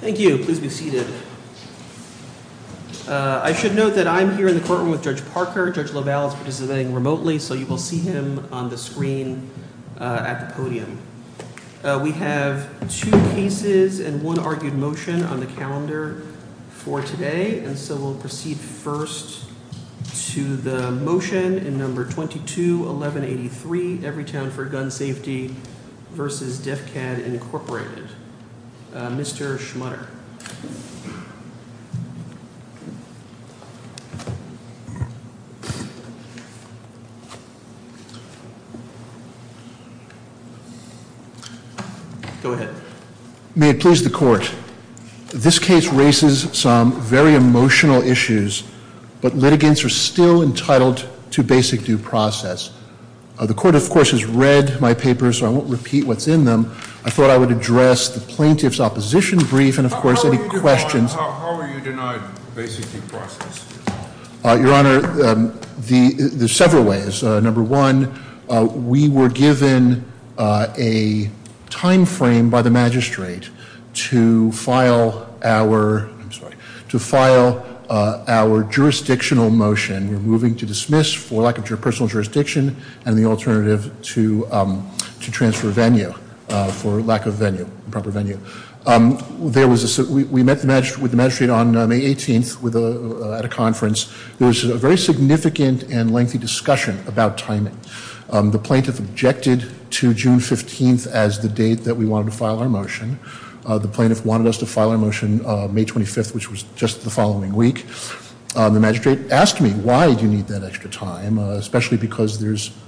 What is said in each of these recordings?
Thank you. Please be seated. I should note that I'm here in the courtroom with Judge Parker. Judge LaValle is participating remotely, so you will see him on the screen at the podium. We have two cases and one argued motion on the calendar for today, and so we'll proceed first to the motion in Number 22-1183, Everytown for Gun Safety v. Defcad, Inc. Mr. Schmutter. Go ahead. May it please the Court. This case raises some very emotional issues, but litigants are still entitled to basic due process. The Court, of course, has read my papers, so I won't repeat what's in them. I thought I would address the plaintiff's opposition brief and, of course, any questions. How are you denied basic due process? Your Honor, there's several ways. Number one, we were given a timeframe by the magistrate to file our jurisdictional motion. We're moving to dismiss for lack of personal jurisdiction and the alternative to transfer venue for lack of venue, proper venue. We met with the magistrate on May 18th at a conference. There was a very significant and lengthy discussion about timing. The plaintiff objected to June 15th as the date that we wanted to file our motion. The plaintiff wanted us to file our motion May 25th, which was just the following week. The magistrate asked me, why do you need that extra time, especially because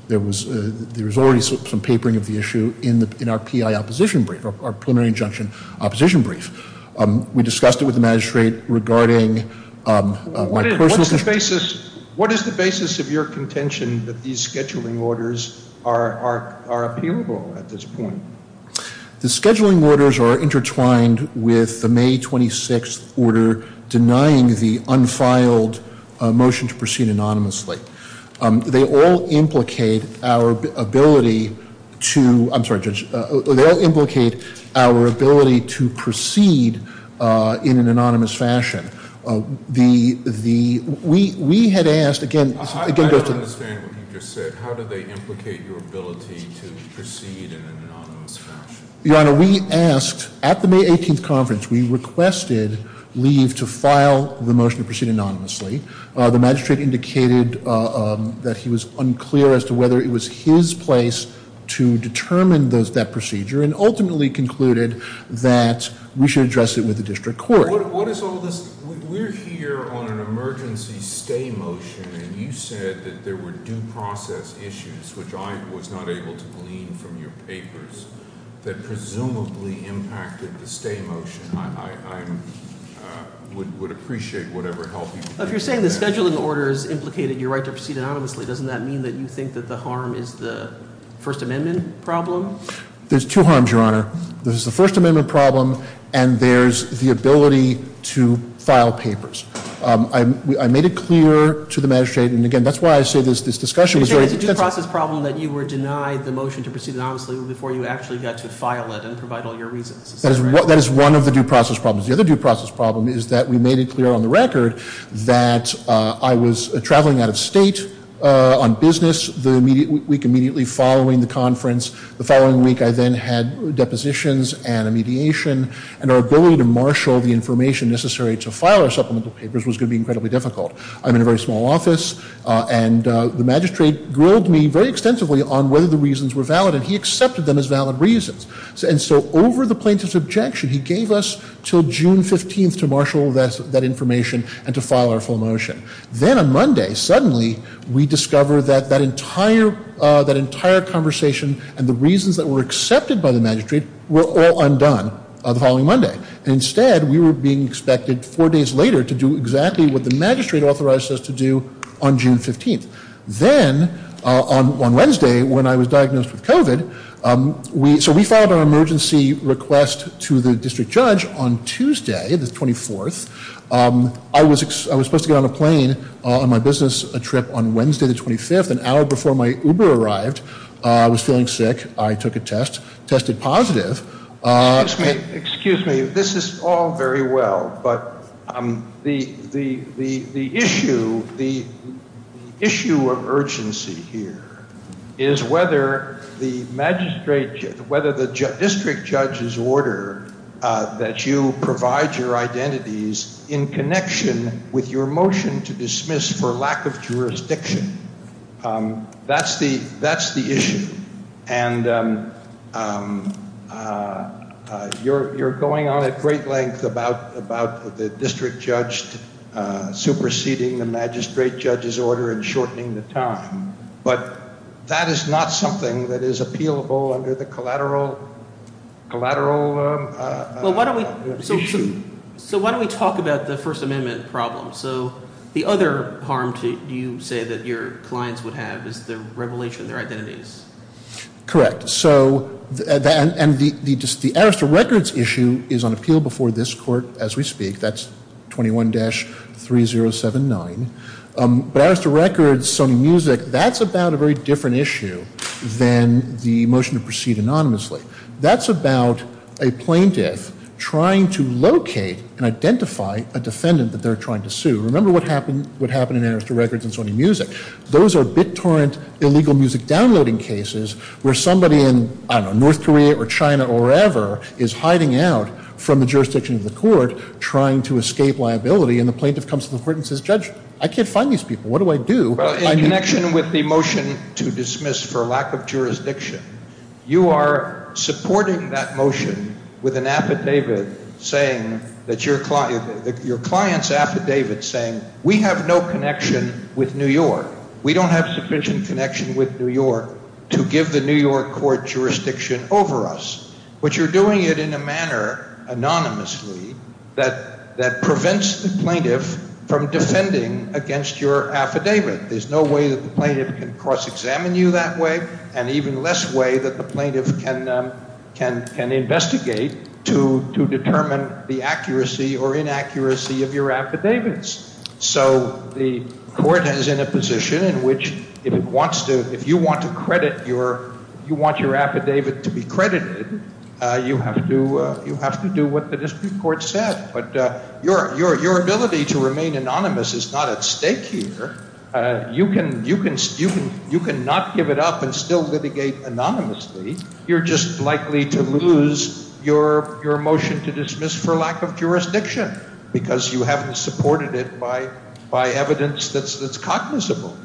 there was already some papering of the issue in our PI opposition brief, our preliminary injunction opposition brief. We discussed it with the magistrate regarding my personal... What is the basis of your contention that these scheduling orders are appealable at this point? The scheduling orders are intertwined with the May 26th order denying the unfiled motion to proceed anonymously. They all implicate our ability to proceed in an anonymous fashion. I don't understand what you just said. How do they implicate your ability to proceed in an anonymous fashion? Your Honor, we asked at the May 18th conference, we requested leave to file the motion to proceed anonymously. The magistrate indicated that he was unclear as to whether it was his place to determine that procedure and ultimately concluded that we should address it with the district court. We're here on an emergency stay motion, and you said that there were due process issues, which I was not able to glean from your papers, that presumably impacted the stay motion. I would appreciate whatever help you can get. If you're saying the scheduling orders implicated your right to proceed anonymously, doesn't that mean that you think that the harm is the First Amendment problem? There's two harms, Your Honor. There's the First Amendment problem, and there's the ability to file papers. I made it clear to the magistrate, and again, that's why I say this discussion was very extensive. You're saying it's a due process problem that you were denied the motion to proceed anonymously before you actually got to file it and provide all your reasons. That is one of the due process problems. The other due process problem is that we made it clear on the record that I was traveling out of state on business the week immediately following the conference. The following week, I then had depositions and a mediation, and our ability to marshal the information necessary to file our supplemental papers was going to be incredibly difficult. I'm in a very small office, and the magistrate grilled me very extensively on whether the reasons were valid, and he accepted them as valid reasons. And so over the plaintiff's objection, he gave us until June 15th to marshal that information and to file our full motion. Then on Monday, suddenly, we discovered that that entire conversation and the reasons that were accepted by the magistrate were all undone the following Monday. Instead, we were being expected four days later to do exactly what the magistrate authorized us to do on June 15th. Then on Wednesday, when I was diagnosed with COVID, so we filed an emergency request to the district judge on Tuesday, the 24th. I was supposed to get on a plane on my business trip on Wednesday, the 25th, an hour before my Uber arrived. I was feeling sick. I took a test, tested positive. Excuse me. This is all very well, but the issue of urgency here is whether the district judge's order that you provide your identities in connection with your motion to dismiss for lack of jurisdiction, that's the issue. And you're going on at great length about the district judge superseding the magistrate judge's order and shortening the time. But that is not something that is appealable under the collateral issue. So why don't we talk about the First Amendment problem? So the other harm, do you say, that your clients would have is the revelation of their identities? Correct. So the Arrest of Records issue is on appeal before this court as we speak. That's 21-3079. But Arrest of Records, Sony Music, that's about a very different issue than the motion to proceed anonymously. That's about a plaintiff trying to locate and identify a defendant that they're trying to sue. Remember what happened in Arrest of Records and Sony Music. Those are BitTorrent illegal music downloading cases where somebody in, I don't know, North Korea or China or wherever is hiding out from the jurisdiction of the court trying to escape liability. And the plaintiff comes to the court and says, Judge, I can't find these people. What do I do? Well, in connection with the motion to dismiss for lack of jurisdiction, you are supporting that motion with an affidavit saying that your client's affidavit saying we have no connection with New York. We don't have sufficient connection with New York to give the New York court jurisdiction over us. But you're doing it in a manner anonymously that prevents the plaintiff from defending against your affidavit. There's no way that the plaintiff can cross-examine you that way and even less way that the plaintiff can investigate to determine the accuracy or inaccuracy of your affidavits. So the court is in a position in which if it wants to – if you want to credit your – you want your affidavit to be credited, you have to do what the district court said. But your ability to remain anonymous is not at stake here. You can not give it up and still litigate anonymously. You're just likely to lose your motion to dismiss for lack of jurisdiction because you haven't supported it by evidence that's cognizable.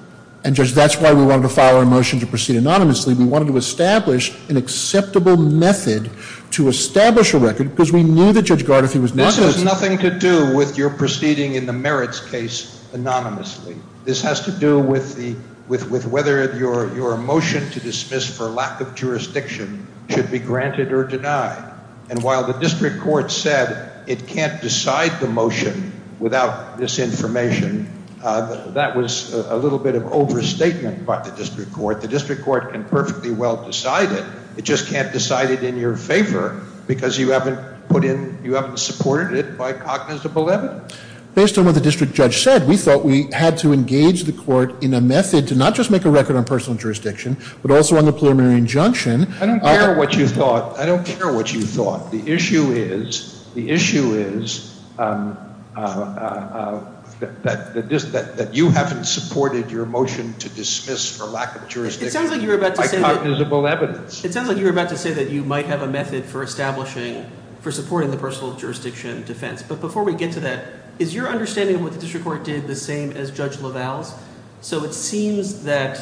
And, Judge, that's why we wanted to file a motion to proceed anonymously. We wanted to establish an acceptable method to establish a record because we knew that Judge Gardner was not going to – This has nothing to do with your proceeding in the merits case anonymously. This has to do with the – with whether your motion to dismiss for lack of jurisdiction should be granted or denied. And while the district court said it can't decide the motion without this information, that was a little bit of overstatement by the district court. The district court can perfectly well decide it. It just can't decide it in your favor because you haven't put in – you haven't supported it by cognizable evidence. Based on what the district judge said, we thought we had to engage the court in a method to not just make a record on personal jurisdiction but also on the preliminary injunction. I don't care what you thought. I don't care what you thought. The issue is – the issue is that you haven't supported your motion to dismiss for lack of jurisdiction by cognizable evidence. It sounds like you were about to say that you might have a method for establishing – for supporting the personal jurisdiction defense. But before we get to that, is your understanding of what the district court did the same as Judge LaValle's? So it seems that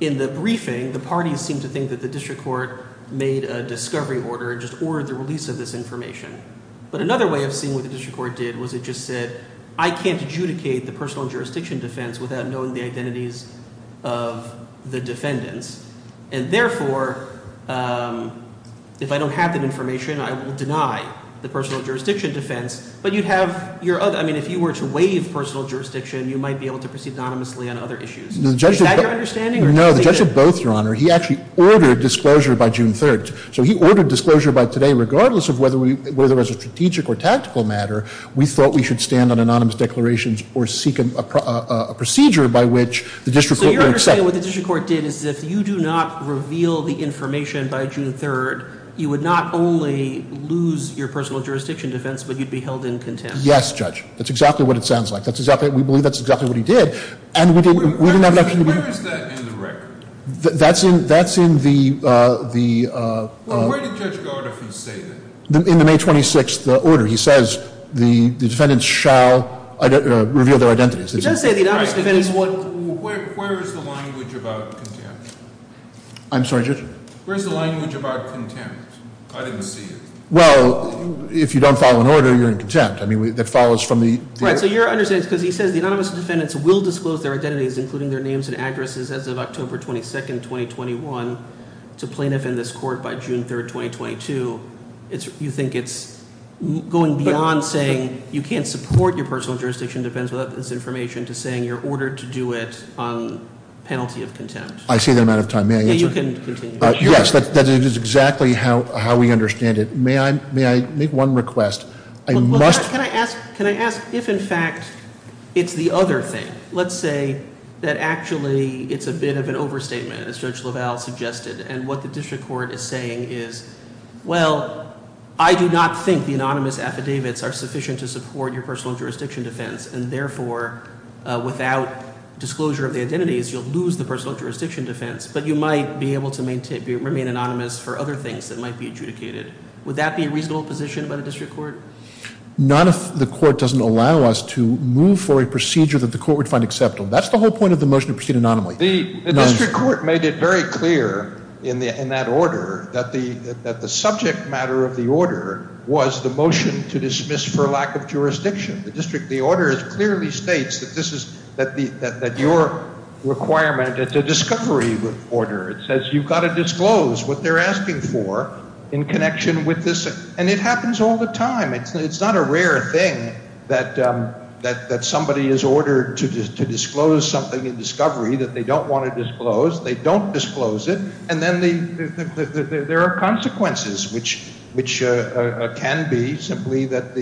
in the briefing, the parties seem to think that the district court made a discovery order and just ordered the release of this information. But another way of seeing what the district court did was it just said I can't adjudicate the personal jurisdiction defense without knowing the identities of the defendants. And therefore, if I don't have that information, I will deny the personal jurisdiction defense. But you'd have – I mean if you were to waive personal jurisdiction, you might be able to proceed anonymously on other issues. Is that your understanding? No, the judge did both, Your Honor. He actually ordered disclosure by June 3rd. So he ordered disclosure by today regardless of whether we – whether it was a strategic or tactical matter. We thought we should stand on anonymous declarations or seek a procedure by which the district court would accept. So your understanding of what the district court did is if you do not reveal the information by June 3rd, you would not only lose your personal jurisdiction defense, but you'd be held in contempt. Yes, Judge. That's exactly what it sounds like. That's exactly – we believe that's exactly what he did. And we didn't have the option to be – Where is that in the record? That's in – that's in the – the – Well, where did Judge Gardner say that? In the May 26th order. He says the defendants shall reveal their identities. He does say the anonymous defendants won't – Where is the language about contempt? I'm sorry, Judge? Where is the language about contempt? I didn't see it. Well, if you don't follow an order, you're in contempt. I mean, that follows from the – Right, so your understanding is because he says the anonymous defendants will disclose their identities, including their names and addresses, as of October 22nd, 2021, to plaintiff in this court by June 3rd, 2022. You think it's going beyond saying you can't support your personal jurisdiction, it depends on this information, to saying you're ordered to do it on penalty of contempt. I see the amount of time. May I answer? You can continue. Yes, that is exactly how we understand it. May I make one request? I must – Well, can I ask – can I ask if, in fact, it's the other thing? Let's say that actually it's a bit of an overstatement, as Judge LaValle suggested, and what the district court is saying is, well, I do not think the anonymous affidavits are sufficient to support your personal jurisdiction defense, and therefore, without disclosure of the identities, you'll lose the personal jurisdiction defense, but you might be able to remain anonymous for other things that might be adjudicated. Would that be a reasonable position by the district court? Not if the court doesn't allow us to move for a procedure that the court would find acceptable. That's the whole point of the motion to proceed anonymously. The district court made it very clear in that order that the subject matter of the order was the motion to dismiss for lack of jurisdiction. The order clearly states that this is – that your requirement is a discovery order. It says you've got to disclose what they're asking for in connection with this, and it happens all the time. It's not a rare thing that somebody is ordered to disclose something in discovery that they don't want to disclose. They don't disclose it, and then there are consequences, which can be simply that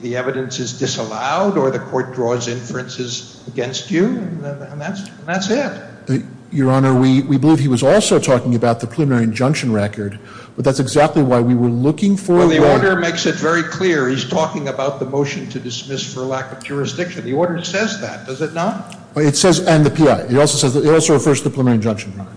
the evidence is disallowed or the court draws inferences against you, and that's it. Your Honor, we believe he was also talking about the preliminary injunction record, but that's exactly why we were looking for – Well, the order makes it very clear. He's talking about the motion to dismiss for lack of jurisdiction. The order says that, does it not? It says – and the P.I. It also says – it also refers to the preliminary injunction record,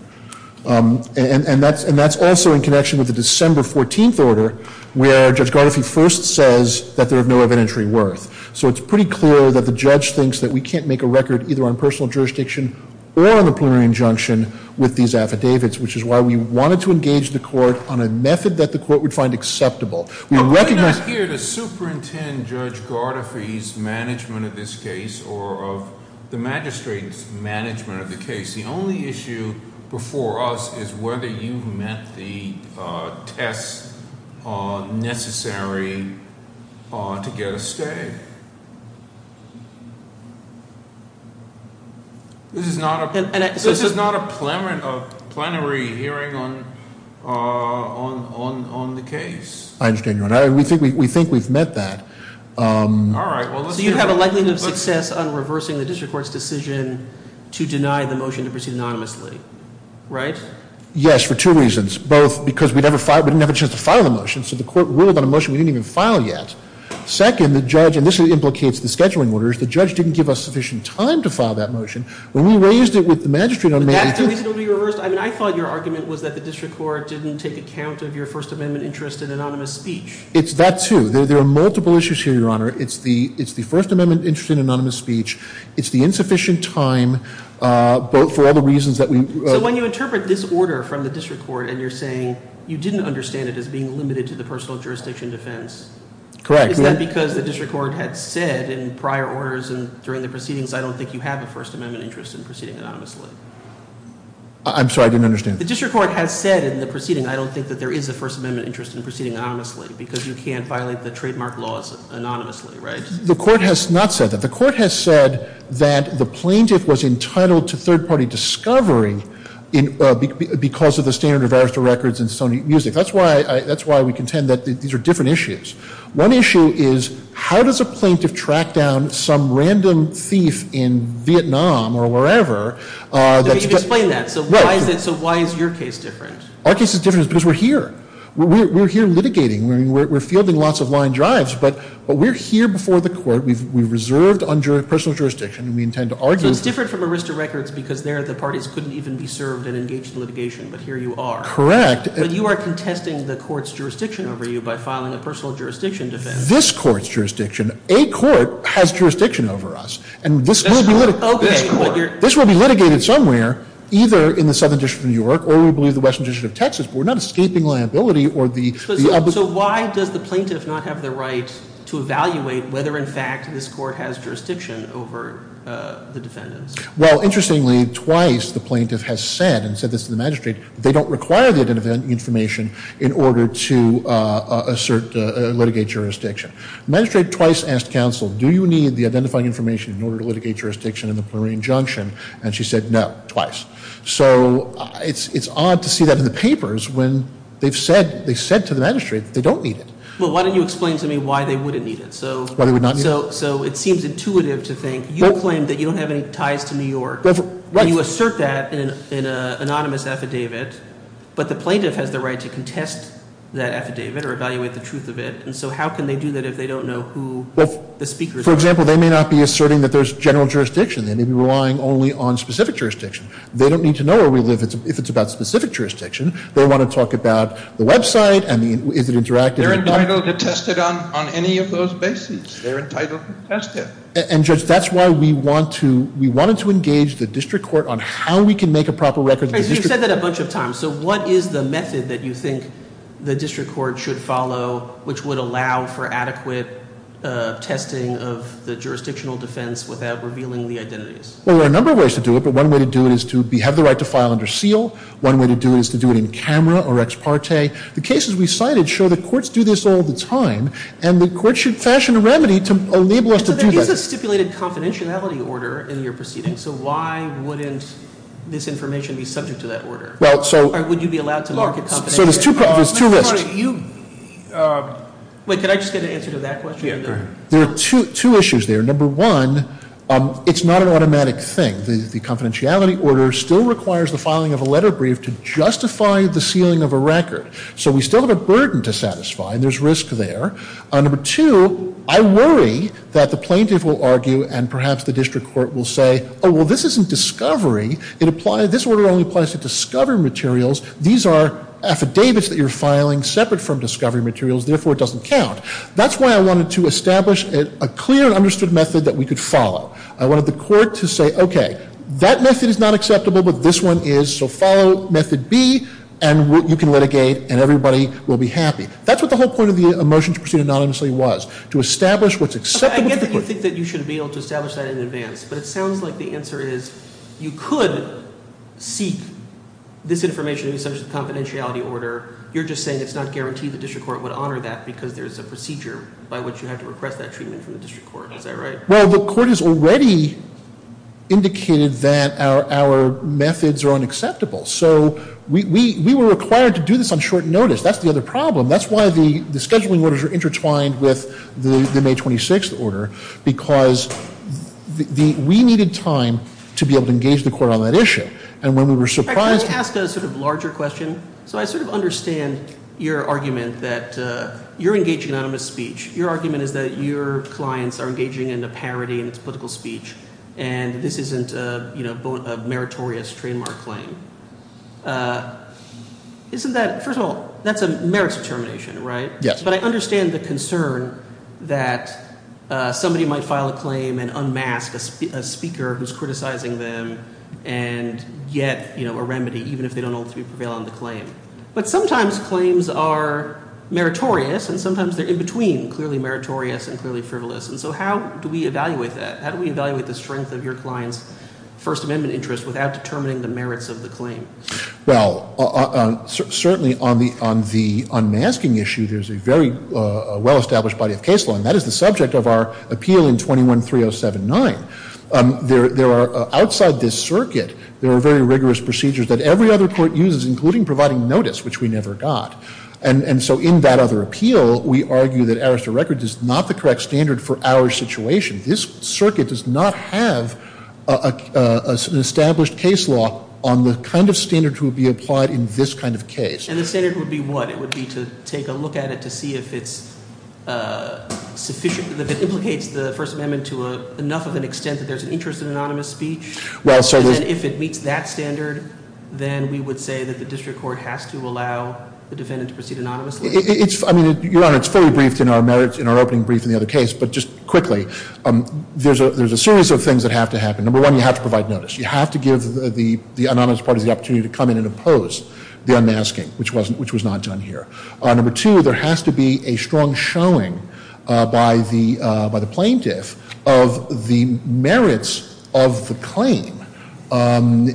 and that's also in connection with the December 14th order where Judge Gardoffy first says that there is no evidentiary worth. So it's pretty clear that the judge thinks that we can't make a record either on personal jurisdiction or on the preliminary injunction with these affidavits, which is why we wanted to engage the court on a method that the court would find acceptable. We recognize – I'm not here to superintend Judge Gardoffy's management of this case or of the magistrate's management of the case. The only issue before us is whether you've met the tests necessary to get a stay. This is not a – this is not a plenary hearing on the case. I understand your – we think we've met that. All right. So you have a likelihood of success on reversing the district court's decision to deny the motion to proceed anonymously, right? Yes, for two reasons. Both because we didn't have a chance to file the motion, so the court ruled on a motion we didn't even file yet. Second, the judge – and this implicates the scheduling orders – the judge didn't give us sufficient time to file that motion. When we raised it with the magistrate on May 18th – But that's the reason it would be reversed? I mean, I thought your argument was that the district court didn't take account of your First Amendment interest in anonymous speech. It's that, too. There are multiple issues here, Your Honor. It's the First Amendment interest in anonymous speech. It's the insufficient time for all the reasons that we – So when you interpret this order from the district court and you're saying you didn't understand it as being limited to the personal jurisdiction defense. Correct. Is that because the district court had said in prior orders and during the proceedings, I don't think you have a First Amendment interest in proceeding anonymously? I'm sorry, I didn't understand. The district court has said in the proceeding, I don't think that there is a First Amendment interest in proceeding anonymously, because you can't violate the trademark laws anonymously, right? The court has not said that. The court has said that the plaintiff was entitled to third-party discovery because of the standard of arrest of records and stony music. That's why we contend that these are different issues. One issue is how does a plaintiff track down some random thief in Vietnam or wherever? Explain that. So why is your case different? Our case is different because we're here. We're here litigating. We're fielding lots of line drives, but we're here before the court. We've reserved personal jurisdiction, and we intend to argue – So it's different from arrest of records because there the parties couldn't even be served and engaged in litigation, but here you are. Correct. But you are contesting the court's jurisdiction over you by filing a personal jurisdiction defense. This court's jurisdiction. A court has jurisdiction over us, and this will be litigated somewhere, either in the Southern District of New York or, we believe, the Western District of Texas. We're not escaping liability or the – So why does the plaintiff not have the right to evaluate whether, in fact, this court has jurisdiction over the defendants? Well, interestingly, twice the plaintiff has said, and said this to the magistrate, that they don't require the identifying information in order to assert – litigate jurisdiction. The magistrate twice asked counsel, do you need the identifying information in order to litigate jurisdiction in the Plurian Junction? And she said no, twice. So it's odd to see that in the papers when they've said – they said to the magistrate that they don't need it. Well, why don't you explain to me why they wouldn't need it? Why they would not need it? So it seems intuitive to think you claim that you don't have any ties to New York. You assert that in an anonymous affidavit, but the plaintiff has the right to contest that affidavit or evaluate the truth of it. And so how can they do that if they don't know who the speakers are? Well, for example, they may not be asserting that there's general jurisdiction. They may be relying only on specific jurisdiction. They don't need to know where we live if it's about specific jurisdiction. They want to talk about the website and the – is it interactive? They're entitled to test it on any of those bases. They're entitled to test it. And, Judge, that's why we want to – we wanted to engage the district court on how we can make a proper record. You've said that a bunch of times. So what is the method that you think the district court should follow which would allow for adequate testing of the jurisdictional defense without revealing the identities? Well, there are a number of ways to do it, but one way to do it is to have the right to file under seal. One way to do it is to do it in camera or ex parte. The cases we cited show the courts do this all the time, and the courts should fashion a remedy to enable us to do that. So there is a stipulated confidentiality order in your proceedings. So why wouldn't this information be subject to that order? Well, so – Or would you be allowed to market confidentiality? So there's two risks. Wait, can I just get an answer to that question? There are two issues there. Number one, it's not an automatic thing. The confidentiality order still requires the filing of a letter brief to justify the sealing of a record. So we still have a burden to satisfy, and there's risk there. Number two, I worry that the plaintiff will argue and perhaps the district court will say, oh, well, this isn't discovery. This order only applies to discovery materials. These are affidavits that you're filing separate from discovery materials. Therefore, it doesn't count. That's why I wanted to establish a clear and understood method that we could follow. I wanted the court to say, okay, that method is not acceptable, but this one is. So follow method B, and you can litigate, and everybody will be happy. That's what the whole point of the motion to proceed anonymously was, to establish what's acceptable to the court. I get that you think that you should be able to establish that in advance, but it sounds like the answer is you could seek this information. It's just a confidentiality order. You're just saying it's not guaranteed the district court would honor that because there's a procedure by which you have to request that treatment from the district court. Is that right? Well, the court has already indicated that our methods are unacceptable. So we were required to do this on short notice. That's the other problem. That's why the scheduling orders are intertwined with the May 26th order, because we needed time to be able to engage the court on that issue. And when we were surprised- Can I ask a sort of larger question? So I sort of understand your argument that you're engaging in anonymous speech. Your argument is that your clients are engaging in a parody in its political speech, and this isn't a meritorious trademark claim. First of all, that's a merits determination, right? Yes. But I understand the concern that somebody might file a claim and unmask a speaker who's criticizing them and get a remedy, even if they don't ultimately prevail on the claim. But sometimes claims are meritorious, and sometimes they're in between clearly meritorious and clearly frivolous. And so how do we evaluate that? How do we evaluate the strength of your client's First Amendment interest without determining the merits of the claim? Well, certainly on the unmasking issue, there's a very well-established body of case law, and that is the subject of our appeal in 21-3079. Outside this circuit, there are very rigorous procedures that every other court uses, including providing notice, which we never got. And so in that other appeal, we argue that Arrester Records is not the correct standard for our situation. This circuit does not have an established case law on the kind of standards that would be applied in this kind of case. And the standard would be what? It would be to take a look at it to see if it's sufficient, if it implicates the First Amendment to enough of an extent that there's an interest in anonymous speech? Well, certainly. And if it meets that standard, then we would say that the district court has to allow the defendant to proceed anonymously? I mean, Your Honor, it's fully briefed in our opening brief in the other case. But just quickly, there's a series of things that have to happen. Number one, you have to provide notice. You have to give the anonymous parties the opportunity to come in and oppose the unmasking, which was not done here. Number two, there has to be a strong showing by the plaintiff of the merits of the claim and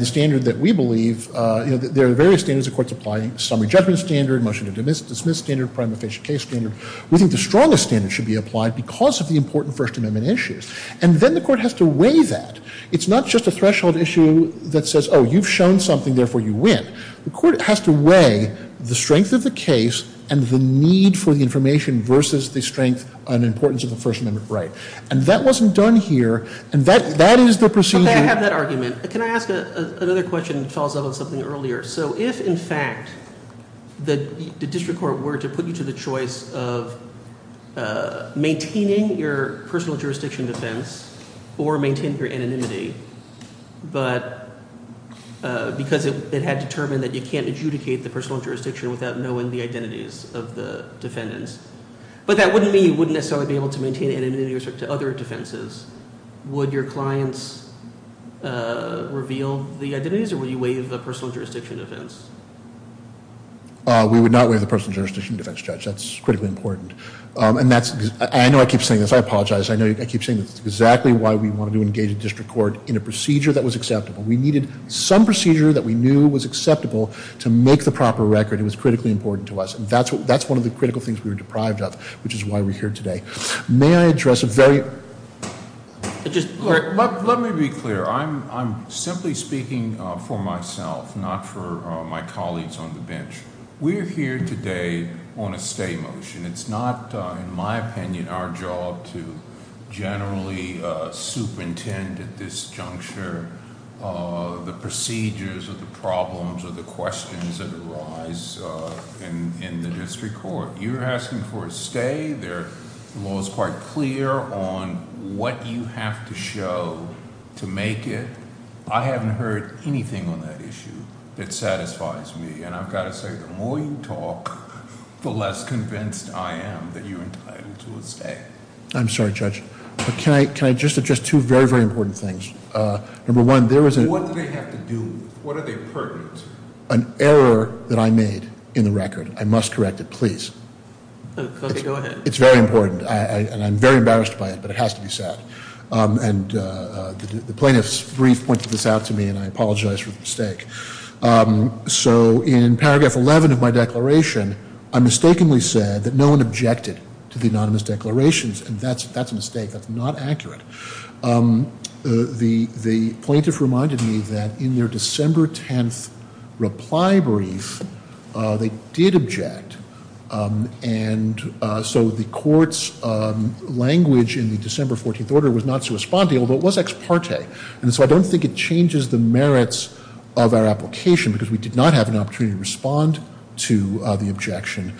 the standard that we believe. There are various standards the court's applying, summary judgment standard, motion to dismiss standard, prime official case standard. We think the strongest standard should be applied because of the important First Amendment issues. And then the court has to weigh that. It's not just a threshold issue that says, oh, you've shown something, therefore you win. The court has to weigh the strength of the case and the need for the information versus the strength and importance of the First Amendment right. And that wasn't done here, and that is the procedure. Okay, I have that argument. Can I ask another question that follows up on something earlier? So if, in fact, the district court were to put you to the choice of maintaining your personal jurisdiction defense or maintain your anonymity, but because it had determined that you can't adjudicate the personal jurisdiction without knowing the identities of the defendants, but that wouldn't mean you wouldn't necessarily be able to maintain anonymity with respect to other defenses. Would your clients reveal the identities, or would you waive the personal jurisdiction defense? We would not waive the personal jurisdiction defense, Judge. That's critically important. And I know I keep saying this. I apologize. I know I keep saying this. It's exactly why we wanted to engage the district court in a procedure that was acceptable. We needed some procedure that we knew was acceptable to make the proper record. It was critically important to us. And that's one of the critical things we were deprived of, which is why we're here today. May I address a very- Let me be clear. I'm simply speaking for myself, not for my colleagues on the bench. We're here today on a stay motion. It's not, in my opinion, our job to generally superintend at this juncture the procedures or the problems or the questions that arise in the district court. You're asking for a stay. The law is quite clear on what you have to show to make it. I haven't heard anything on that issue that satisfies me. And I've got to say, the more you talk, the less convinced I am that you're entitled to a stay. I'm sorry, Judge. Can I just address two very, very important things? Number one, there was a- What do they have to do with it? What are they pertinent to? An error that I made in the record. I must correct it, please. Okay, go ahead. It's very important, and I'm very embarrassed by it, but it has to be said. And the plaintiff's brief pointed this out to me, and I apologize for the mistake. So in paragraph 11 of my declaration, I mistakenly said that no one objected to the anonymous declarations, and that's a mistake. That's not accurate. The plaintiff reminded me that in their December 10th reply brief, they did object. And so the court's language in the December 14th order was not corresponding, although it was ex parte. And so I don't think it changes the merits of our application because we did not have an opportunity to respond to the objection.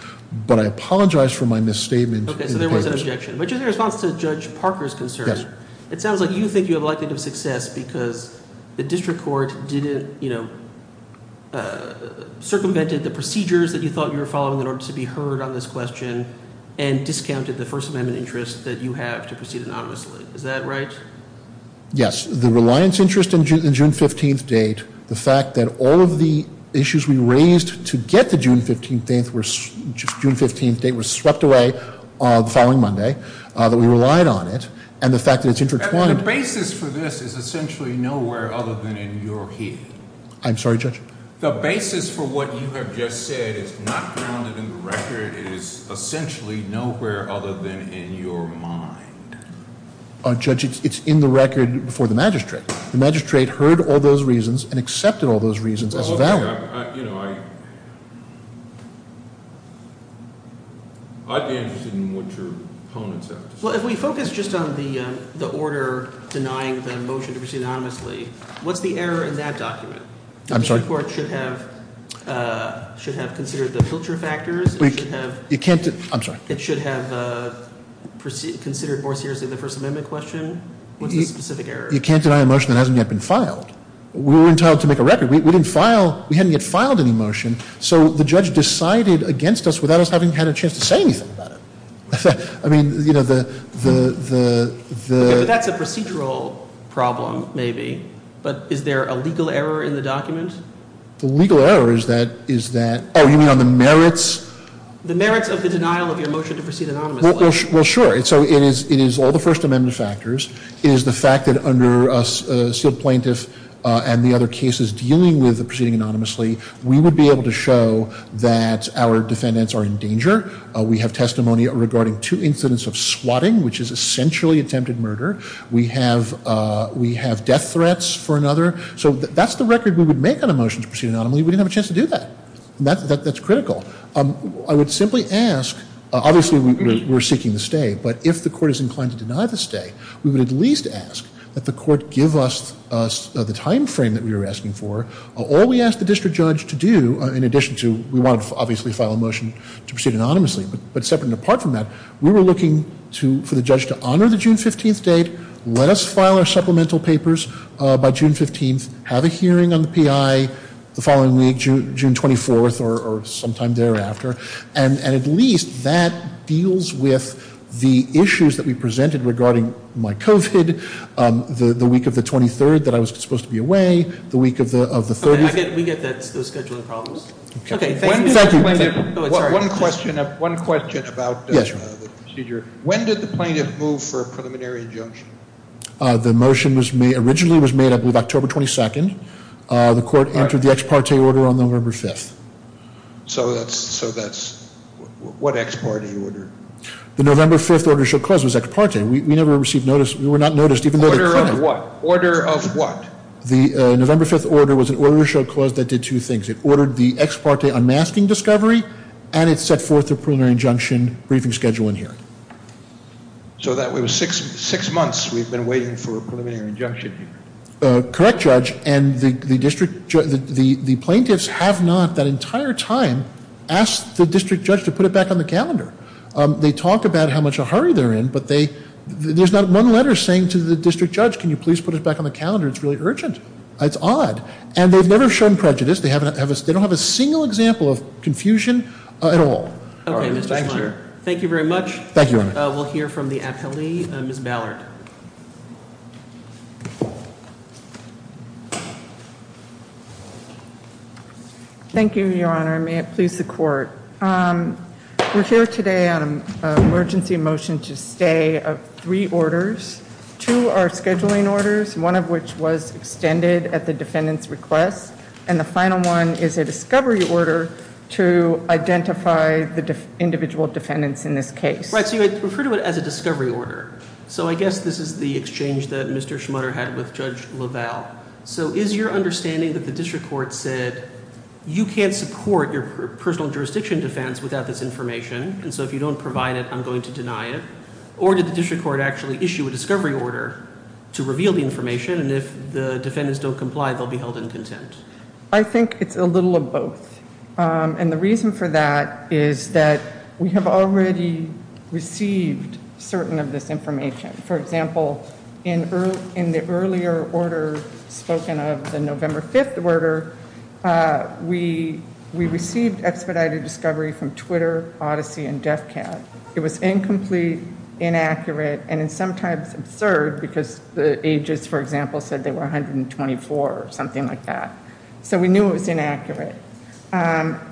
But I apologize for my misstatement. Okay, so there was an objection. But just in response to Judge Parker's concern, it sounds like you think you have a likelihood of success because the district court circumvented the procedures that you thought you were following in order to be heard on this question and discounted the First Amendment interest that you have to proceed anonymously. Is that right? Yes. The reliance interest in the June 15th date, the fact that all of the issues we raised to get to June 15th date were swept away the following Monday, that we relied on it, and the fact that it's intertwined. The basis for this is essentially nowhere other than in your head. I'm sorry, Judge? The basis for what you have just said is not grounded in the record. It is essentially nowhere other than in your mind. Judge, it's in the record before the magistrate. The magistrate heard all those reasons and accepted all those reasons as valid. You know, I'd be interested in what your opponents have to say. Well, if we focus just on the order denying the motion to proceed anonymously, what's the error in that document? I'm sorry? The district court should have considered the filter factors. You can't – I'm sorry. It should have considered more seriously the First Amendment question. What's the specific error? You can't deny a motion that hasn't yet been filed. We were entitled to make a record. We didn't file – we hadn't yet filed any motion, so the judge decided against us without us having had a chance to say anything about it. I mean, you know, the – Okay, but that's a procedural problem maybe, but is there a legal error in the document? The legal error is that – is that – oh, you mean on the merits? The merits of the denial of your motion to proceed anonymously. Well, sure. So it is all the First Amendment factors. It is the fact that under a sealed plaintiff and the other cases dealing with proceeding anonymously, we would be able to show that our defendants are in danger. We have testimony regarding two incidents of swatting, which is essentially attempted murder. We have death threats for another. So that's the record we would make on a motion to proceed anonymously. We didn't have a chance to do that. That's critical. I would simply ask – obviously, we're seeking the stay, but if the court is inclined to deny the stay, we would at least ask that the court give us the timeframe that we were asking for. All we asked the district judge to do, in addition to – we wanted to obviously file a motion to proceed anonymously, but separate and apart from that, we were looking for the judge to honor the June 15th date, let us file our supplemental papers by June 15th, have a hearing on the P.I., the following week, June 24th or sometime thereafter, and at least that deals with the issues that we presented regarding my COVID, the week of the 23rd that I was supposed to be away, the week of the 30th. We get those scheduling problems. Thank you. One question about the procedure. When did the plaintiff move for a preliminary injunction? The motion originally was made, I believe, October 22nd. The court entered the ex parte order on November 5th. So that's – what ex parte order? The November 5th order to show clause was ex parte. We never received notice. We were not noticed, even though the plaintiff – Order of what? Order of what? The November 5th order was an order to show clause that did two things. It ordered the ex parte unmasking discovery, and it set forth a preliminary injunction briefing schedule and hearing. So that was six months we've been waiting for a preliminary injunction hearing? Correct, Judge. And the plaintiffs have not that entire time asked the district judge to put it back on the calendar. They talk about how much of a hurry they're in, but there's not one letter saying to the district judge, can you please put it back on the calendar? It's really urgent. It's odd. And they've never shown prejudice. They don't have a single example of confusion at all. All right. Thank you very much. Thank you, Your Honor. We'll hear from the appellee, Ms. Ballard. Thank you, Your Honor. May it please the court. We're here today on an emergency motion to stay of three orders. Two are scheduling orders, one of which was extended at the defendant's request, and the final one is a discovery order to identify the individual defendants in this case. Right, so you would refer to it as a discovery order. So I guess this is the exchange that Mr. Schmutter had with Judge LaValle. So is your understanding that the district court said you can't support your personal jurisdiction defense without this information, and so if you don't provide it, I'm going to deny it? Or did the district court actually issue a discovery order to reveal the information, and if the defendants don't comply, they'll be held in contempt? I think it's a little of both. And the reason for that is that we have already received certain of this information. For example, in the earlier order spoken of, the November 5th order, we received expedited discovery from Twitter, Odyssey, and Defcat. It was incomplete, inaccurate, and sometimes absurd because the ages, for example, said they were 124 or something like that. So we knew it was inaccurate.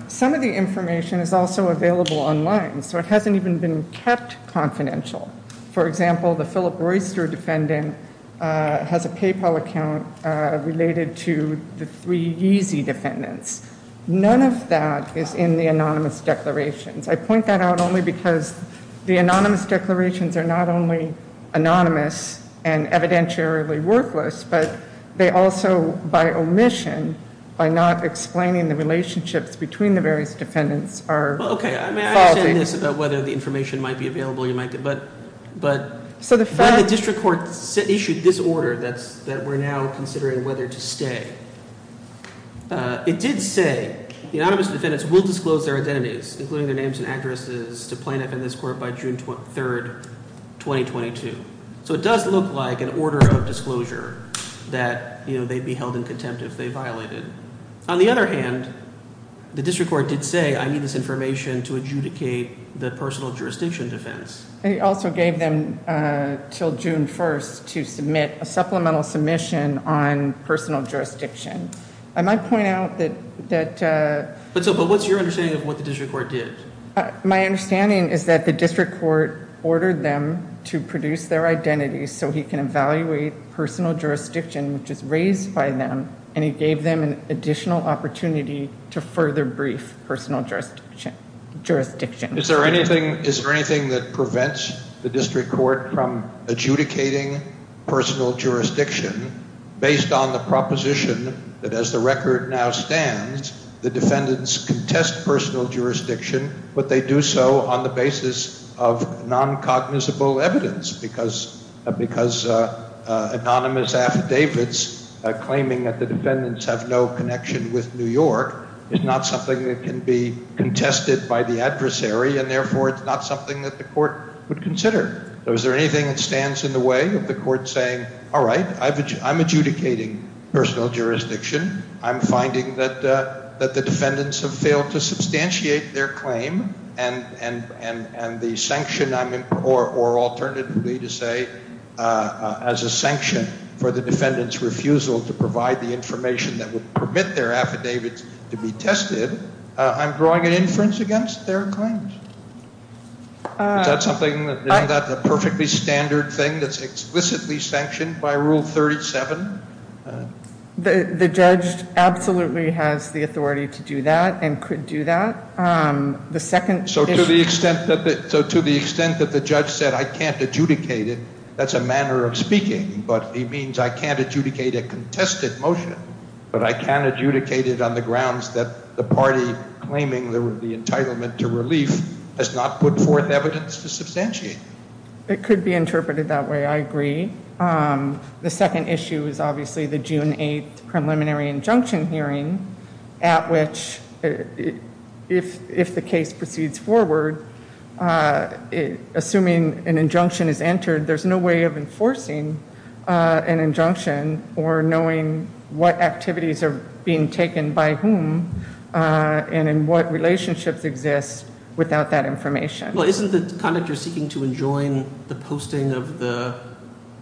Some of the information is also available online, so it hasn't even been kept confidential. For example, the Philip Royster defendant has a PayPal account related to the three Yeezy defendants. None of that is in the anonymous declarations. I point that out only because the anonymous declarations are not only anonymous and evidentiarily worthless, but they also, by omission, by not explaining the relationships between the various defendants, are faulty. I understand this about whether the information might be available. But the district court issued this order that we're now considering whether to stay. It did say the anonymous defendants will disclose their identities, including their names and addresses, to plaintiff and this court by June 3rd, 2022. So it does look like an order of disclosure that they'd be held in contempt if they violated. On the other hand, the district court did say, I need this information to adjudicate the personal jurisdiction defense. They also gave them until June 1st to submit a supplemental submission on personal jurisdiction. I might point out that— But what's your understanding of what the district court did? My understanding is that the district court ordered them to produce their identities so he can evaluate personal jurisdiction, which is raised by them, and he gave them an additional opportunity to further brief personal jurisdiction. Is there anything that prevents the district court from adjudicating personal jurisdiction based on the proposition that, as the record now stands, the defendants contest personal jurisdiction, but they do so on the basis of non-cognizable evidence because anonymous affidavits claiming that the defendants have no connection with New York is not something that can be contested by the adversary, and therefore it's not something that the court would consider. So is there anything that stands in the way of the court saying, all right, I'm adjudicating personal jurisdiction. I'm finding that the defendants have failed to substantiate their claim, and the sanction, or alternatively to say, as a sanction for the defendants' refusal to provide the information that would permit their affidavits to be tested, I'm drawing an inference against their claims. Is that a perfectly standard thing that's explicitly sanctioned by Rule 37? The judge absolutely has the authority to do that and could do that. So to the extent that the judge said I can't adjudicate it, that's a manner of speaking, but he means I can't adjudicate a contested motion, but I can adjudicate it on the grounds that the party claiming the entitlement to relief has not put forth evidence to substantiate. It could be interpreted that way. I agree. The second issue is obviously the June 8th preliminary injunction hearing at which, if the case proceeds forward, assuming an injunction is entered, there's no way of enforcing an injunction or knowing what activities are being taken by whom and in what relationships exist without that information. Well, isn't the conductor seeking to enjoin the posting of the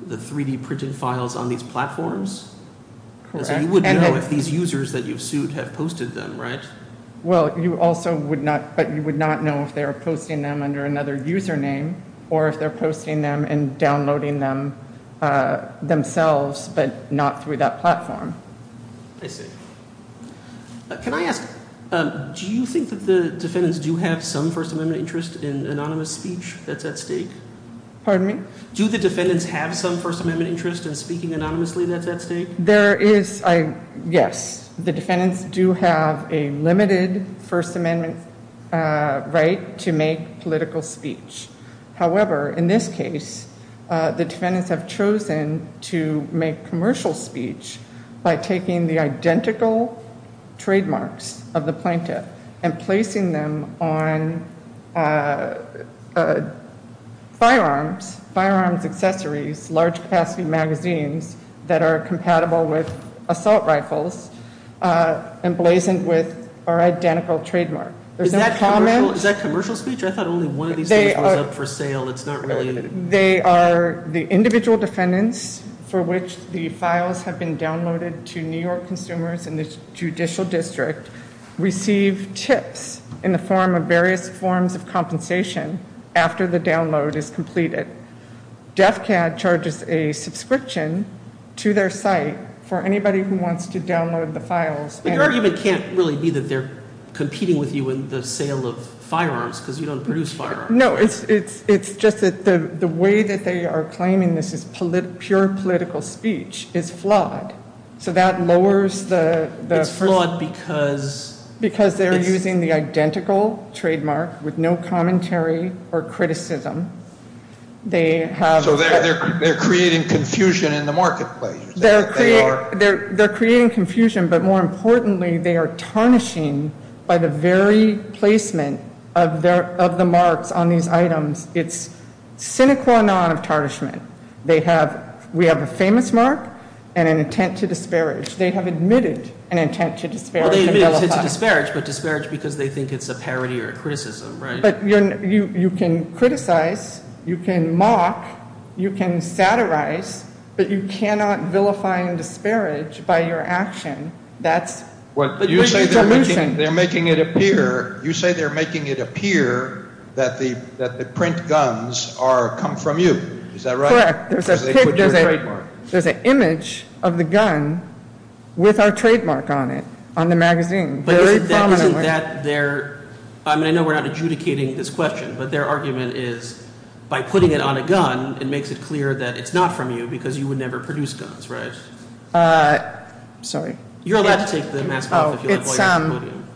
3-D printed files on these platforms? Correct. So you wouldn't know if these users that you've sued have posted them, right? Well, you also would not, but you would not know if they are posting them under another user name or if they're posting them and downloading them themselves but not through that platform. I see. Can I ask, do you think that the defendants do have some First Amendment interest in anonymous speech that's at stake? Pardon me? Do the defendants have some First Amendment interest in speaking anonymously that's at stake? There is, yes. The defendants do have a limited First Amendment right to make political speech. However, in this case, the defendants have chosen to make commercial speech by taking the identical trademarks of the plaintiff and placing them on firearms, firearms accessories, large-capacity magazines that are compatible with assault rifles emblazoned with our identical trademark. Is that commercial speech? I thought only one of these things was up for sale. It's not really. They are the individual defendants for which the files have been downloaded to New York consumers and the judicial district receive tips in the form of various forms of compensation after the download is completed. DEFCAD charges a subscription to their site for anybody who wants to download the files. But your argument can't really be that they're competing with you in the sale of firearms because you don't produce firearms, right? No, it's just that the way that they are claiming this is pure political speech is flawed. So that lowers the- It's flawed because- Because they're using the identical trademark with no commentary or criticism. They have- So they're creating confusion in the marketplace. They're creating confusion, but more importantly, they are tarnishing by the very placement of the marks on these items. It's sine qua non of tarnishment. They have- we have a famous mark and an intent to disparage. They have admitted an intent to disparage. Well, they admitted it's a disparage, but disparage because they think it's a parody or a criticism, right? But you can criticize, you can mock, you can satirize, but you cannot vilify and disparage by your action. That's the solution. But you say they're making it appear that the print guns come from you. Is that right? Correct. Because they put your trademark. There's an image of the gun with our trademark on it, on the magazine, very prominently. Isn't that their- I mean, I know we're not adjudicating this question, but their argument is by putting it on a gun, it makes it clear that it's not from you because you would never produce guns, right? Sorry. You're allowed to take the mask off if you like while you're on the podium.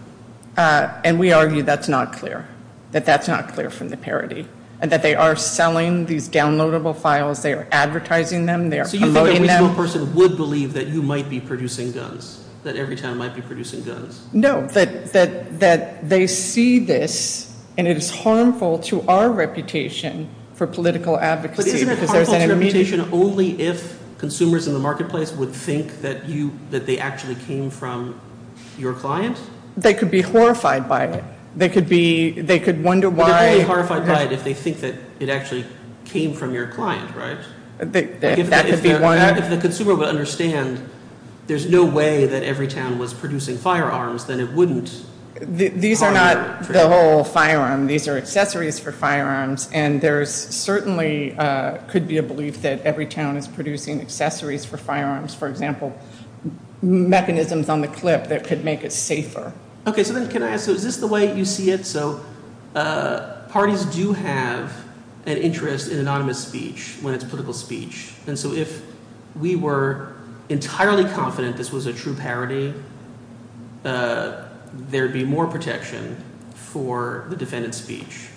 And we argue that's not clear, that that's not clear from the parody, and that they are selling these downloadable files. They are advertising them. They are promoting them. So you think a reasonable person would believe that you might be producing guns, that Everytown might be producing guns? No, that they see this, and it is harmful to our reputation for political advocacy because there's an immediate- But isn't it harmful to your reputation only if consumers in the marketplace would think that they actually came from your client? They could be horrified by it. They could wonder why- They could be horrified by it if they think that it actually came from your client, right? That could be one- If the consumer would understand there's no way that Everytown was producing firearms, then it wouldn't- These are not the whole firearm. These are accessories for firearms, and there certainly could be a belief that Everytown is producing accessories for firearms, for example, mechanisms on the clip that could make it safer. Okay, so then can I ask, is this the way you see it? So parties do have an interest in anonymous speech when it's political speech. And so if we were entirely confident this was a true parody, there would be more protection for the defendant's speech.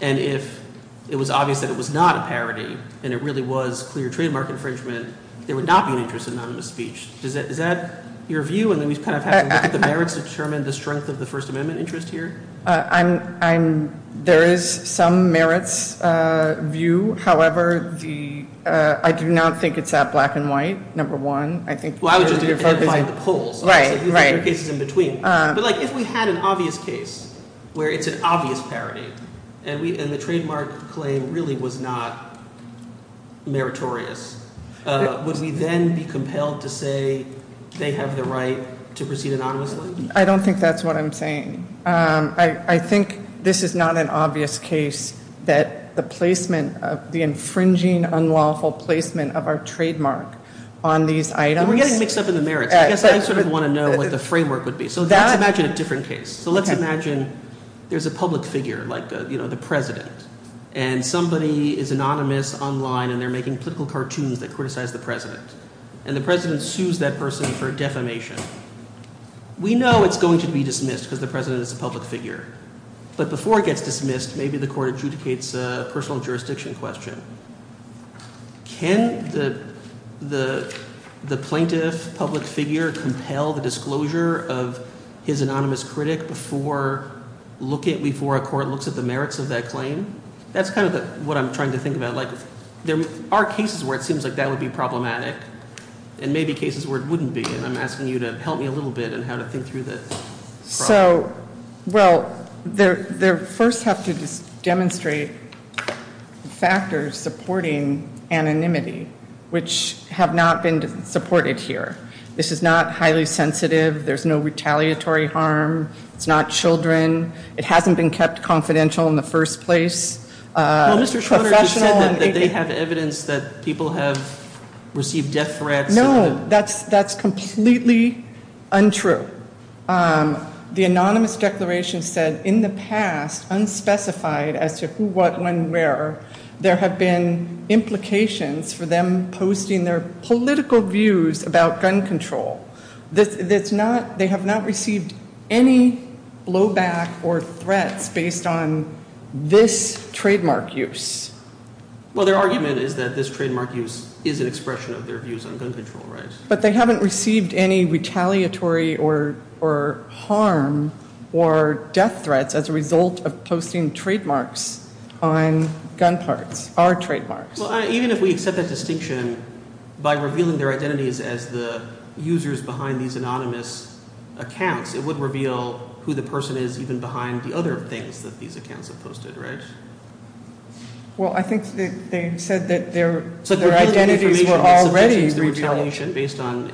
And if it was obvious that it was not a parody and it really was clear trademark infringement, there would not be an interest in anonymous speech. Is that your view? And then we kind of have to look at the merits to determine the strength of the First Amendment interest here? There is some merits view. However, I do not think it's that black and white, number one. I think- Well, I would just identify the poles. Right, right. There are cases in between. But if we had an obvious case where it's an obvious parody and the trademark claim really was not meritorious, would we then be compelled to say they have the right to proceed anonymously? I don't think that's what I'm saying. I think this is not an obvious case that the placement of the infringing unlawful placement of our trademark on these items- We're getting mixed up in the merits. I guess I sort of want to know what the framework would be. So let's imagine a different case. So let's imagine there's a public figure like the president. And somebody is anonymous online and they're making political cartoons that criticize the president. And the president sues that person for defamation. We know it's going to be dismissed because the president is a public figure. But before it gets dismissed, maybe the court adjudicates a personal jurisdiction question. Can the plaintiff, public figure, compel the disclosure of his anonymous critic before a court looks at the merits of that claim? That's kind of what I'm trying to think about. There are cases where it seems like that would be problematic and maybe cases where it wouldn't be. I'm asking you to help me a little bit on how to think through the problem. So, well, they first have to demonstrate factors supporting anonymity, which have not been supported here. This is not highly sensitive. There's no retaliatory harm. It's not children. It hasn't been kept confidential in the first place. Well, Mr. Schroeder, you said that they have evidence that people have received death threats. No, that's completely untrue. The anonymous declaration said, in the past, unspecified as to who, what, when, where, there have been implications for them posting their political views about gun control. They have not received any blowback or threats based on this trademark use. Well, their argument is that this trademark use is an expression of their views on gun control, right? But they haven't received any retaliatory or harm or death threats as a result of posting trademarks on gun parts, our trademarks. Well, even if we accept that distinction by revealing their identities as the users behind these anonymous accounts, it would reveal who the person is even behind the other things that these accounts have posted, right? Well, I think they said that their identities were already revealed. So they're revealing information that suggests there was retaliation based on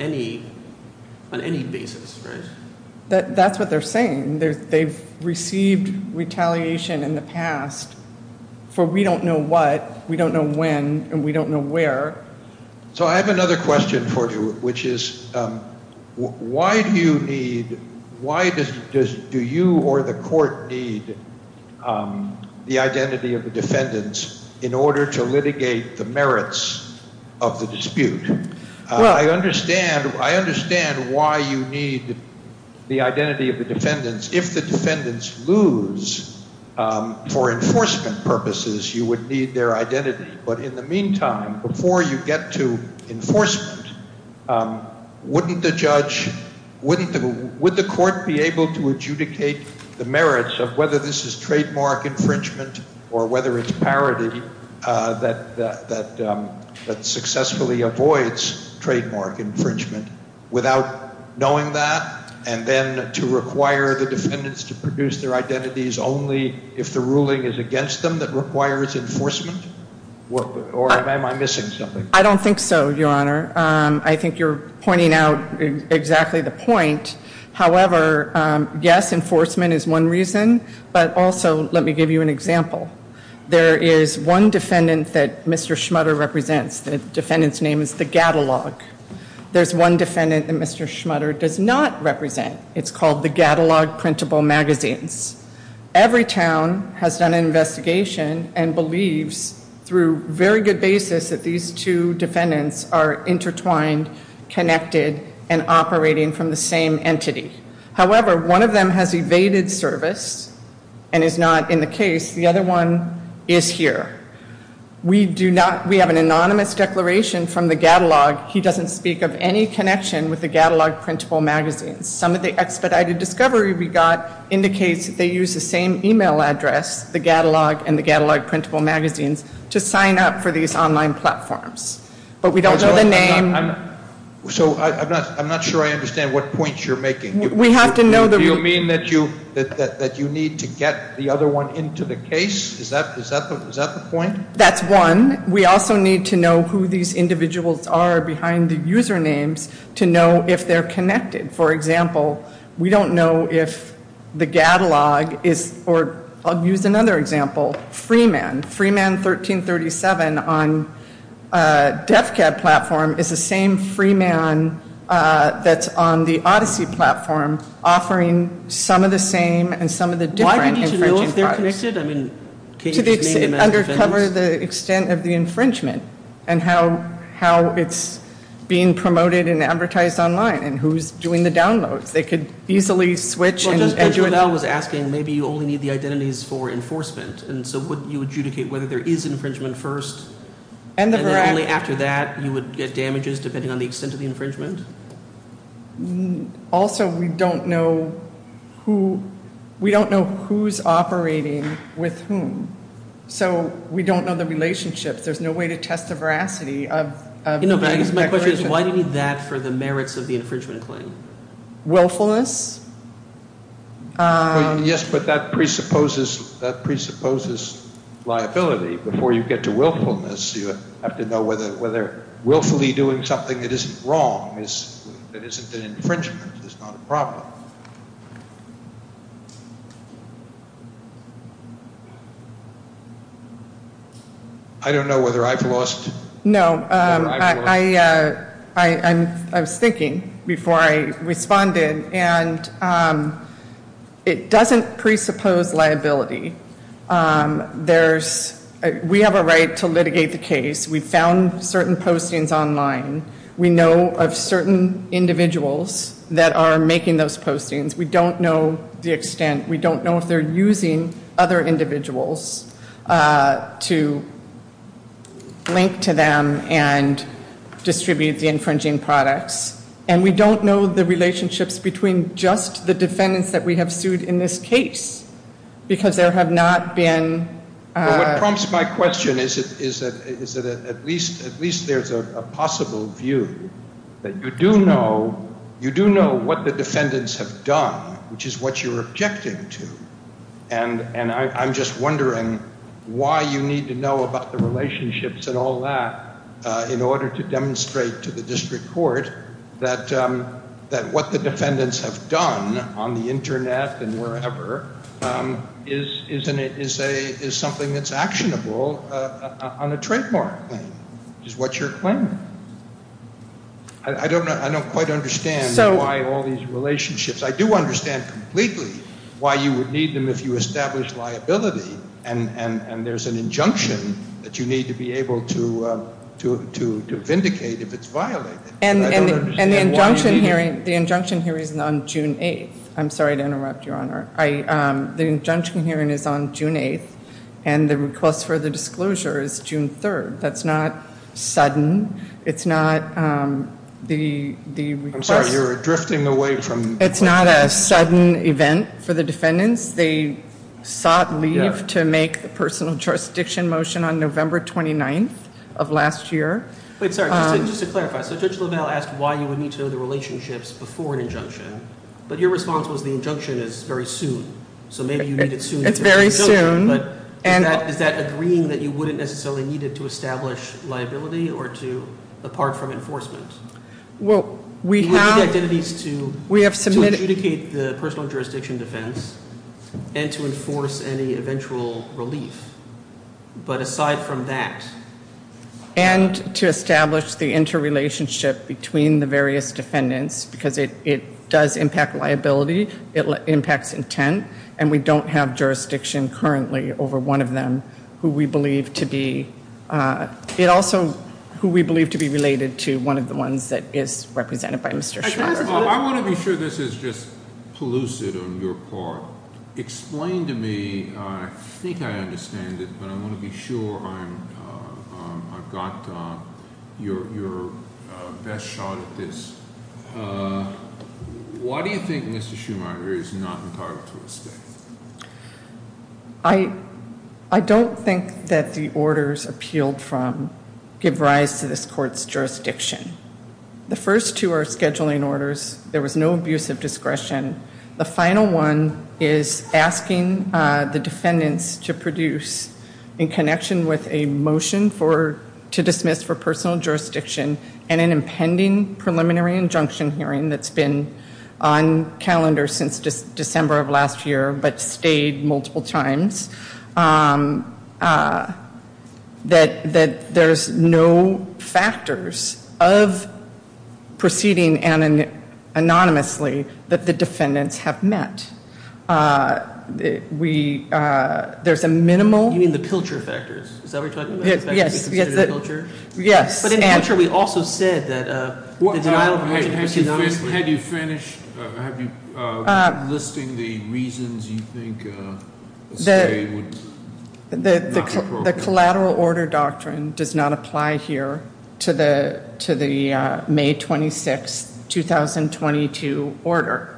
any basis, right? That's what they're saying. They've received retaliation in the past for we don't know what, we don't know when, and we don't know where. So I have another question for you, which is why do you need – why does – do you or the court need the identity of the defendants in order to litigate the merits of the dispute? I understand why you need the identity of the defendants. If the defendants lose for enforcement purposes, you would need their identity. But in the meantime, before you get to enforcement, wouldn't the judge – would the court be able to adjudicate the merits of whether this is trademark infringement or whether it's parity that successfully avoids trademark infringement without knowing that? And then to require the defendants to produce their identities only if the ruling is against them that requires enforcement? Or am I missing something? I don't think so, Your Honor. I think you're pointing out exactly the point. However, yes, enforcement is one reason, but also let me give you an example. There is one defendant that Mr. Schmutter represents. The defendant's name is The Gatalog. There's one defendant that Mr. Schmutter does not represent. It's called The Gatalog Printable Magazines. Every town has done an investigation and believes through very good basis that these two defendants are intertwined, connected, and operating from the same entity. However, one of them has evaded service and is not in the case. The other one is here. We do not – we have an anonymous declaration from The Gatalog. He doesn't speak of any connection with The Gatalog Printable Magazines. Some of the expedited discovery we got indicates they use the same e-mail address, The Gatalog and The Gatalog Printable Magazines, to sign up for these online platforms. But we don't know the name. So I'm not sure I understand what points you're making. We have to know the – Do you mean that you need to get the other one into the case? Is that the point? That's one. We also need to know who these individuals are behind the usernames to know if they're connected. For example, we don't know if The Gatalog is – or I'll use another example, Freeman. Freeman 1337 on DEFCAD platform is the same Freeman that's on the Odyssey platform offering some of the same and some of the different infringing products. Why would you need to know if they're connected? I mean, can't you just name them as defendants? Undercover the extent of the infringement and how it's being promoted and advertised online and who's doing the downloads. They could easily switch and – Well, just because you –– and Edward L. was asking, maybe you only need the identities for enforcement. And so would you adjudicate whether there is infringement first and then only after that you would get damages depending on the extent of the infringement? Also, we don't know who – we don't know who's operating with whom. So we don't know the relationships. There's no way to test the veracity of – No, but my question is why do you need that for the merits of the infringement claim? Willfulness? Yes, but that presupposes liability. Before you get to willfulness, you have to know whether willfully doing something that isn't wrong, that isn't an infringement, is not a problem. I don't know whether I've lost – No, I was thinking before I responded, and it doesn't presuppose liability. There's – we have a right to litigate the case. We found certain postings online. We know of certain individuals that are making those postings. We don't know the extent. We don't know if they're using other individuals to link to them and distribute the infringing products. And we don't know the relationships between just the defendants that we have sued in this case because there have not been – Perhaps my question is that at least there's a possible view that you do know what the defendants have done, which is what you're objecting to. And I'm just wondering why you need to know about the relationships and all that in order to demonstrate to the district court that what the defendants have done on the Internet and wherever is something that's actionable on a trademark claim, which is what you're claiming. I don't quite understand why all these relationships – I do understand completely why you would need them if you establish liability, and there's an injunction that you need to be able to vindicate if it's violated. And the injunction hearing is on June 8th. I'm sorry to interrupt, Your Honor. The injunction hearing is on June 8th, and the request for the disclosure is June 3rd. That's not sudden. It's not the request – I'm sorry. You're drifting away from – It's not a sudden event for the defendants. They sought leave to make the personal jurisdiction motion on November 29th of last year. Wait, sorry. Just to clarify, so Judge LaValle asked why you would need to know the relationships before an injunction, but your response was the injunction is very soon. So maybe you need it soon – It's very soon. But is that agreeing that you wouldn't necessarily need it to establish liability or to – apart from enforcement? Well, we have – We need the identities to – We have submitted – To adjudicate the personal jurisdiction defense and to enforce any eventual relief. But aside from that – And to establish the interrelationship between the various defendants because it does impact liability. It impacts intent, and we don't have jurisdiction currently over one of them who we believe to be – It also – who we believe to be related to one of the ones that is represented by Mr. Schumacher. I want to be sure this is just pellucid on your part. Explain to me – I think I understand it, but I want to be sure I've got your best shot at this. Why do you think Mr. Schumacher is not entitled to a stay? I don't think that the orders appealed from give rise to this court's jurisdiction. The first two are scheduling orders. There was no abuse of discretion. The final one is asking the defendants to produce, in connection with a motion to dismiss for personal jurisdiction and an impending preliminary injunction hearing that's been on calendar since December of last year, but stayed multiple times, that there's no factors of proceeding anonymously that the defendants have met. There's a minimal – You mean the pilcher factors? Is that what you're talking about? Yes. But in the answer we also said that – Had you finished listing the reasons you think a stay would not be appropriate? The collateral order doctrine does not apply here to the May 26, 2022 order.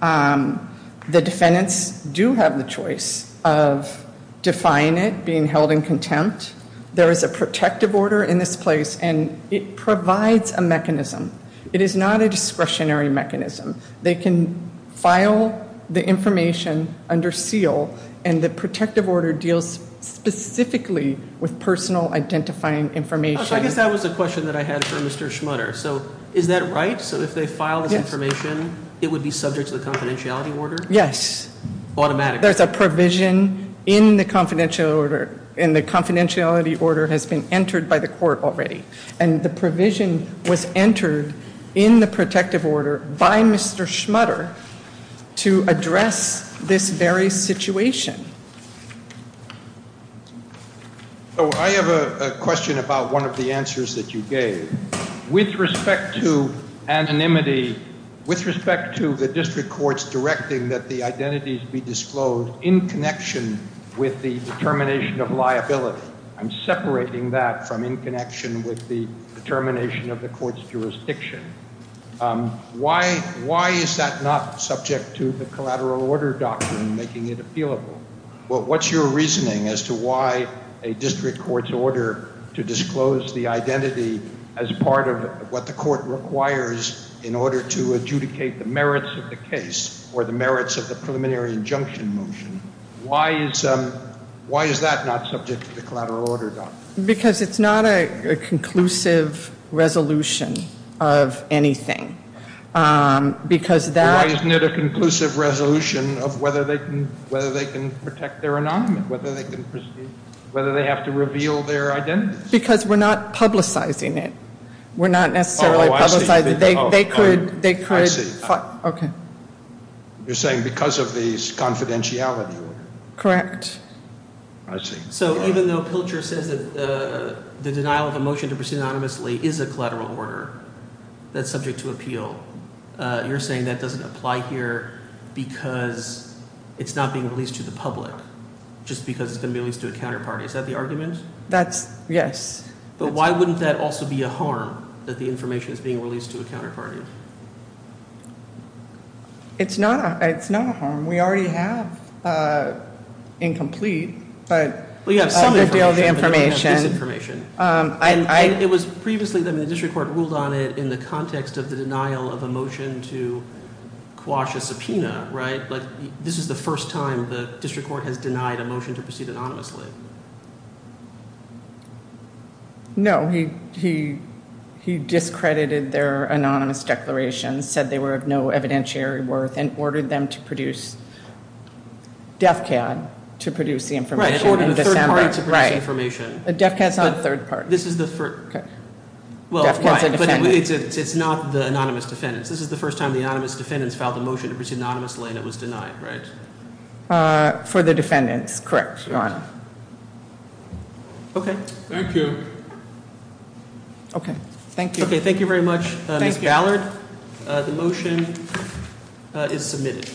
The defendants do have the choice of defying it, being held in contempt. There is a protective order in this place, and it provides a mechanism. It is not a discretionary mechanism. They can file the information under seal, and the protective order deals specifically with personal identifying information. I guess that was a question that I had for Mr. Schmutter. So is that right? So if they file this information, it would be subject to the confidentiality order? Yes. Automatically? There's a provision in the confidential order, and the confidentiality order has been entered by the court already. And the provision was entered in the protective order by Mr. Schmutter to address this very situation. I have a question about one of the answers that you gave. With respect to anonymity, with respect to the district courts directing that the identities be disclosed in connection with the determination of liability, I'm separating that from in connection with the determination of the court's jurisdiction. Why is that not subject to the collateral order doctrine, making it appealable? What's your reasoning as to why a district court's order to disclose the identity as part of what the court requires in order to adjudicate the merits of the case or the merits of the preliminary injunction motion, why is that not subject to the collateral order doctrine? Because it's not a conclusive resolution of anything. Why isn't it a conclusive resolution of whether they can protect their anonymity, whether they have to reveal their identities? Because we're not publicizing it. We're not necessarily publicizing it. Oh, I see. You're saying because of the confidentiality order. Correct. I see. So even though Pilcher says that the denial of a motion to proceed anonymously is a collateral order that's subject to appeal, you're saying that doesn't apply here because it's not being released to the public just because it's going to be released to a counterparty. Is that the argument? That's yes. But why wouldn't that also be a harm that the information is being released to a counterparty? It's not a harm. We already have incomplete. We have some information, but we don't have this information. It was previously that the district court ruled on it in the context of the denial of a motion to quash a subpoena, right? This is the first time the district court has denied a motion to proceed anonymously. No. He discredited their anonymous declaration, said they were of no evidentiary worth, and ordered them to produce DEFCAD to produce the information. Right, ordered a third party to produce information. DEFCAD's not a third party. This is the first. DEFCAD's a defendant. But it's not the anonymous defendants. This is the first time the anonymous defendants filed a motion to proceed anonymously and it was denied, right? For the defendants, correct, Your Honor. Okay. Thank you. Okay, thank you. Okay, thank you very much, Ms. Gallard. The motion is submitted.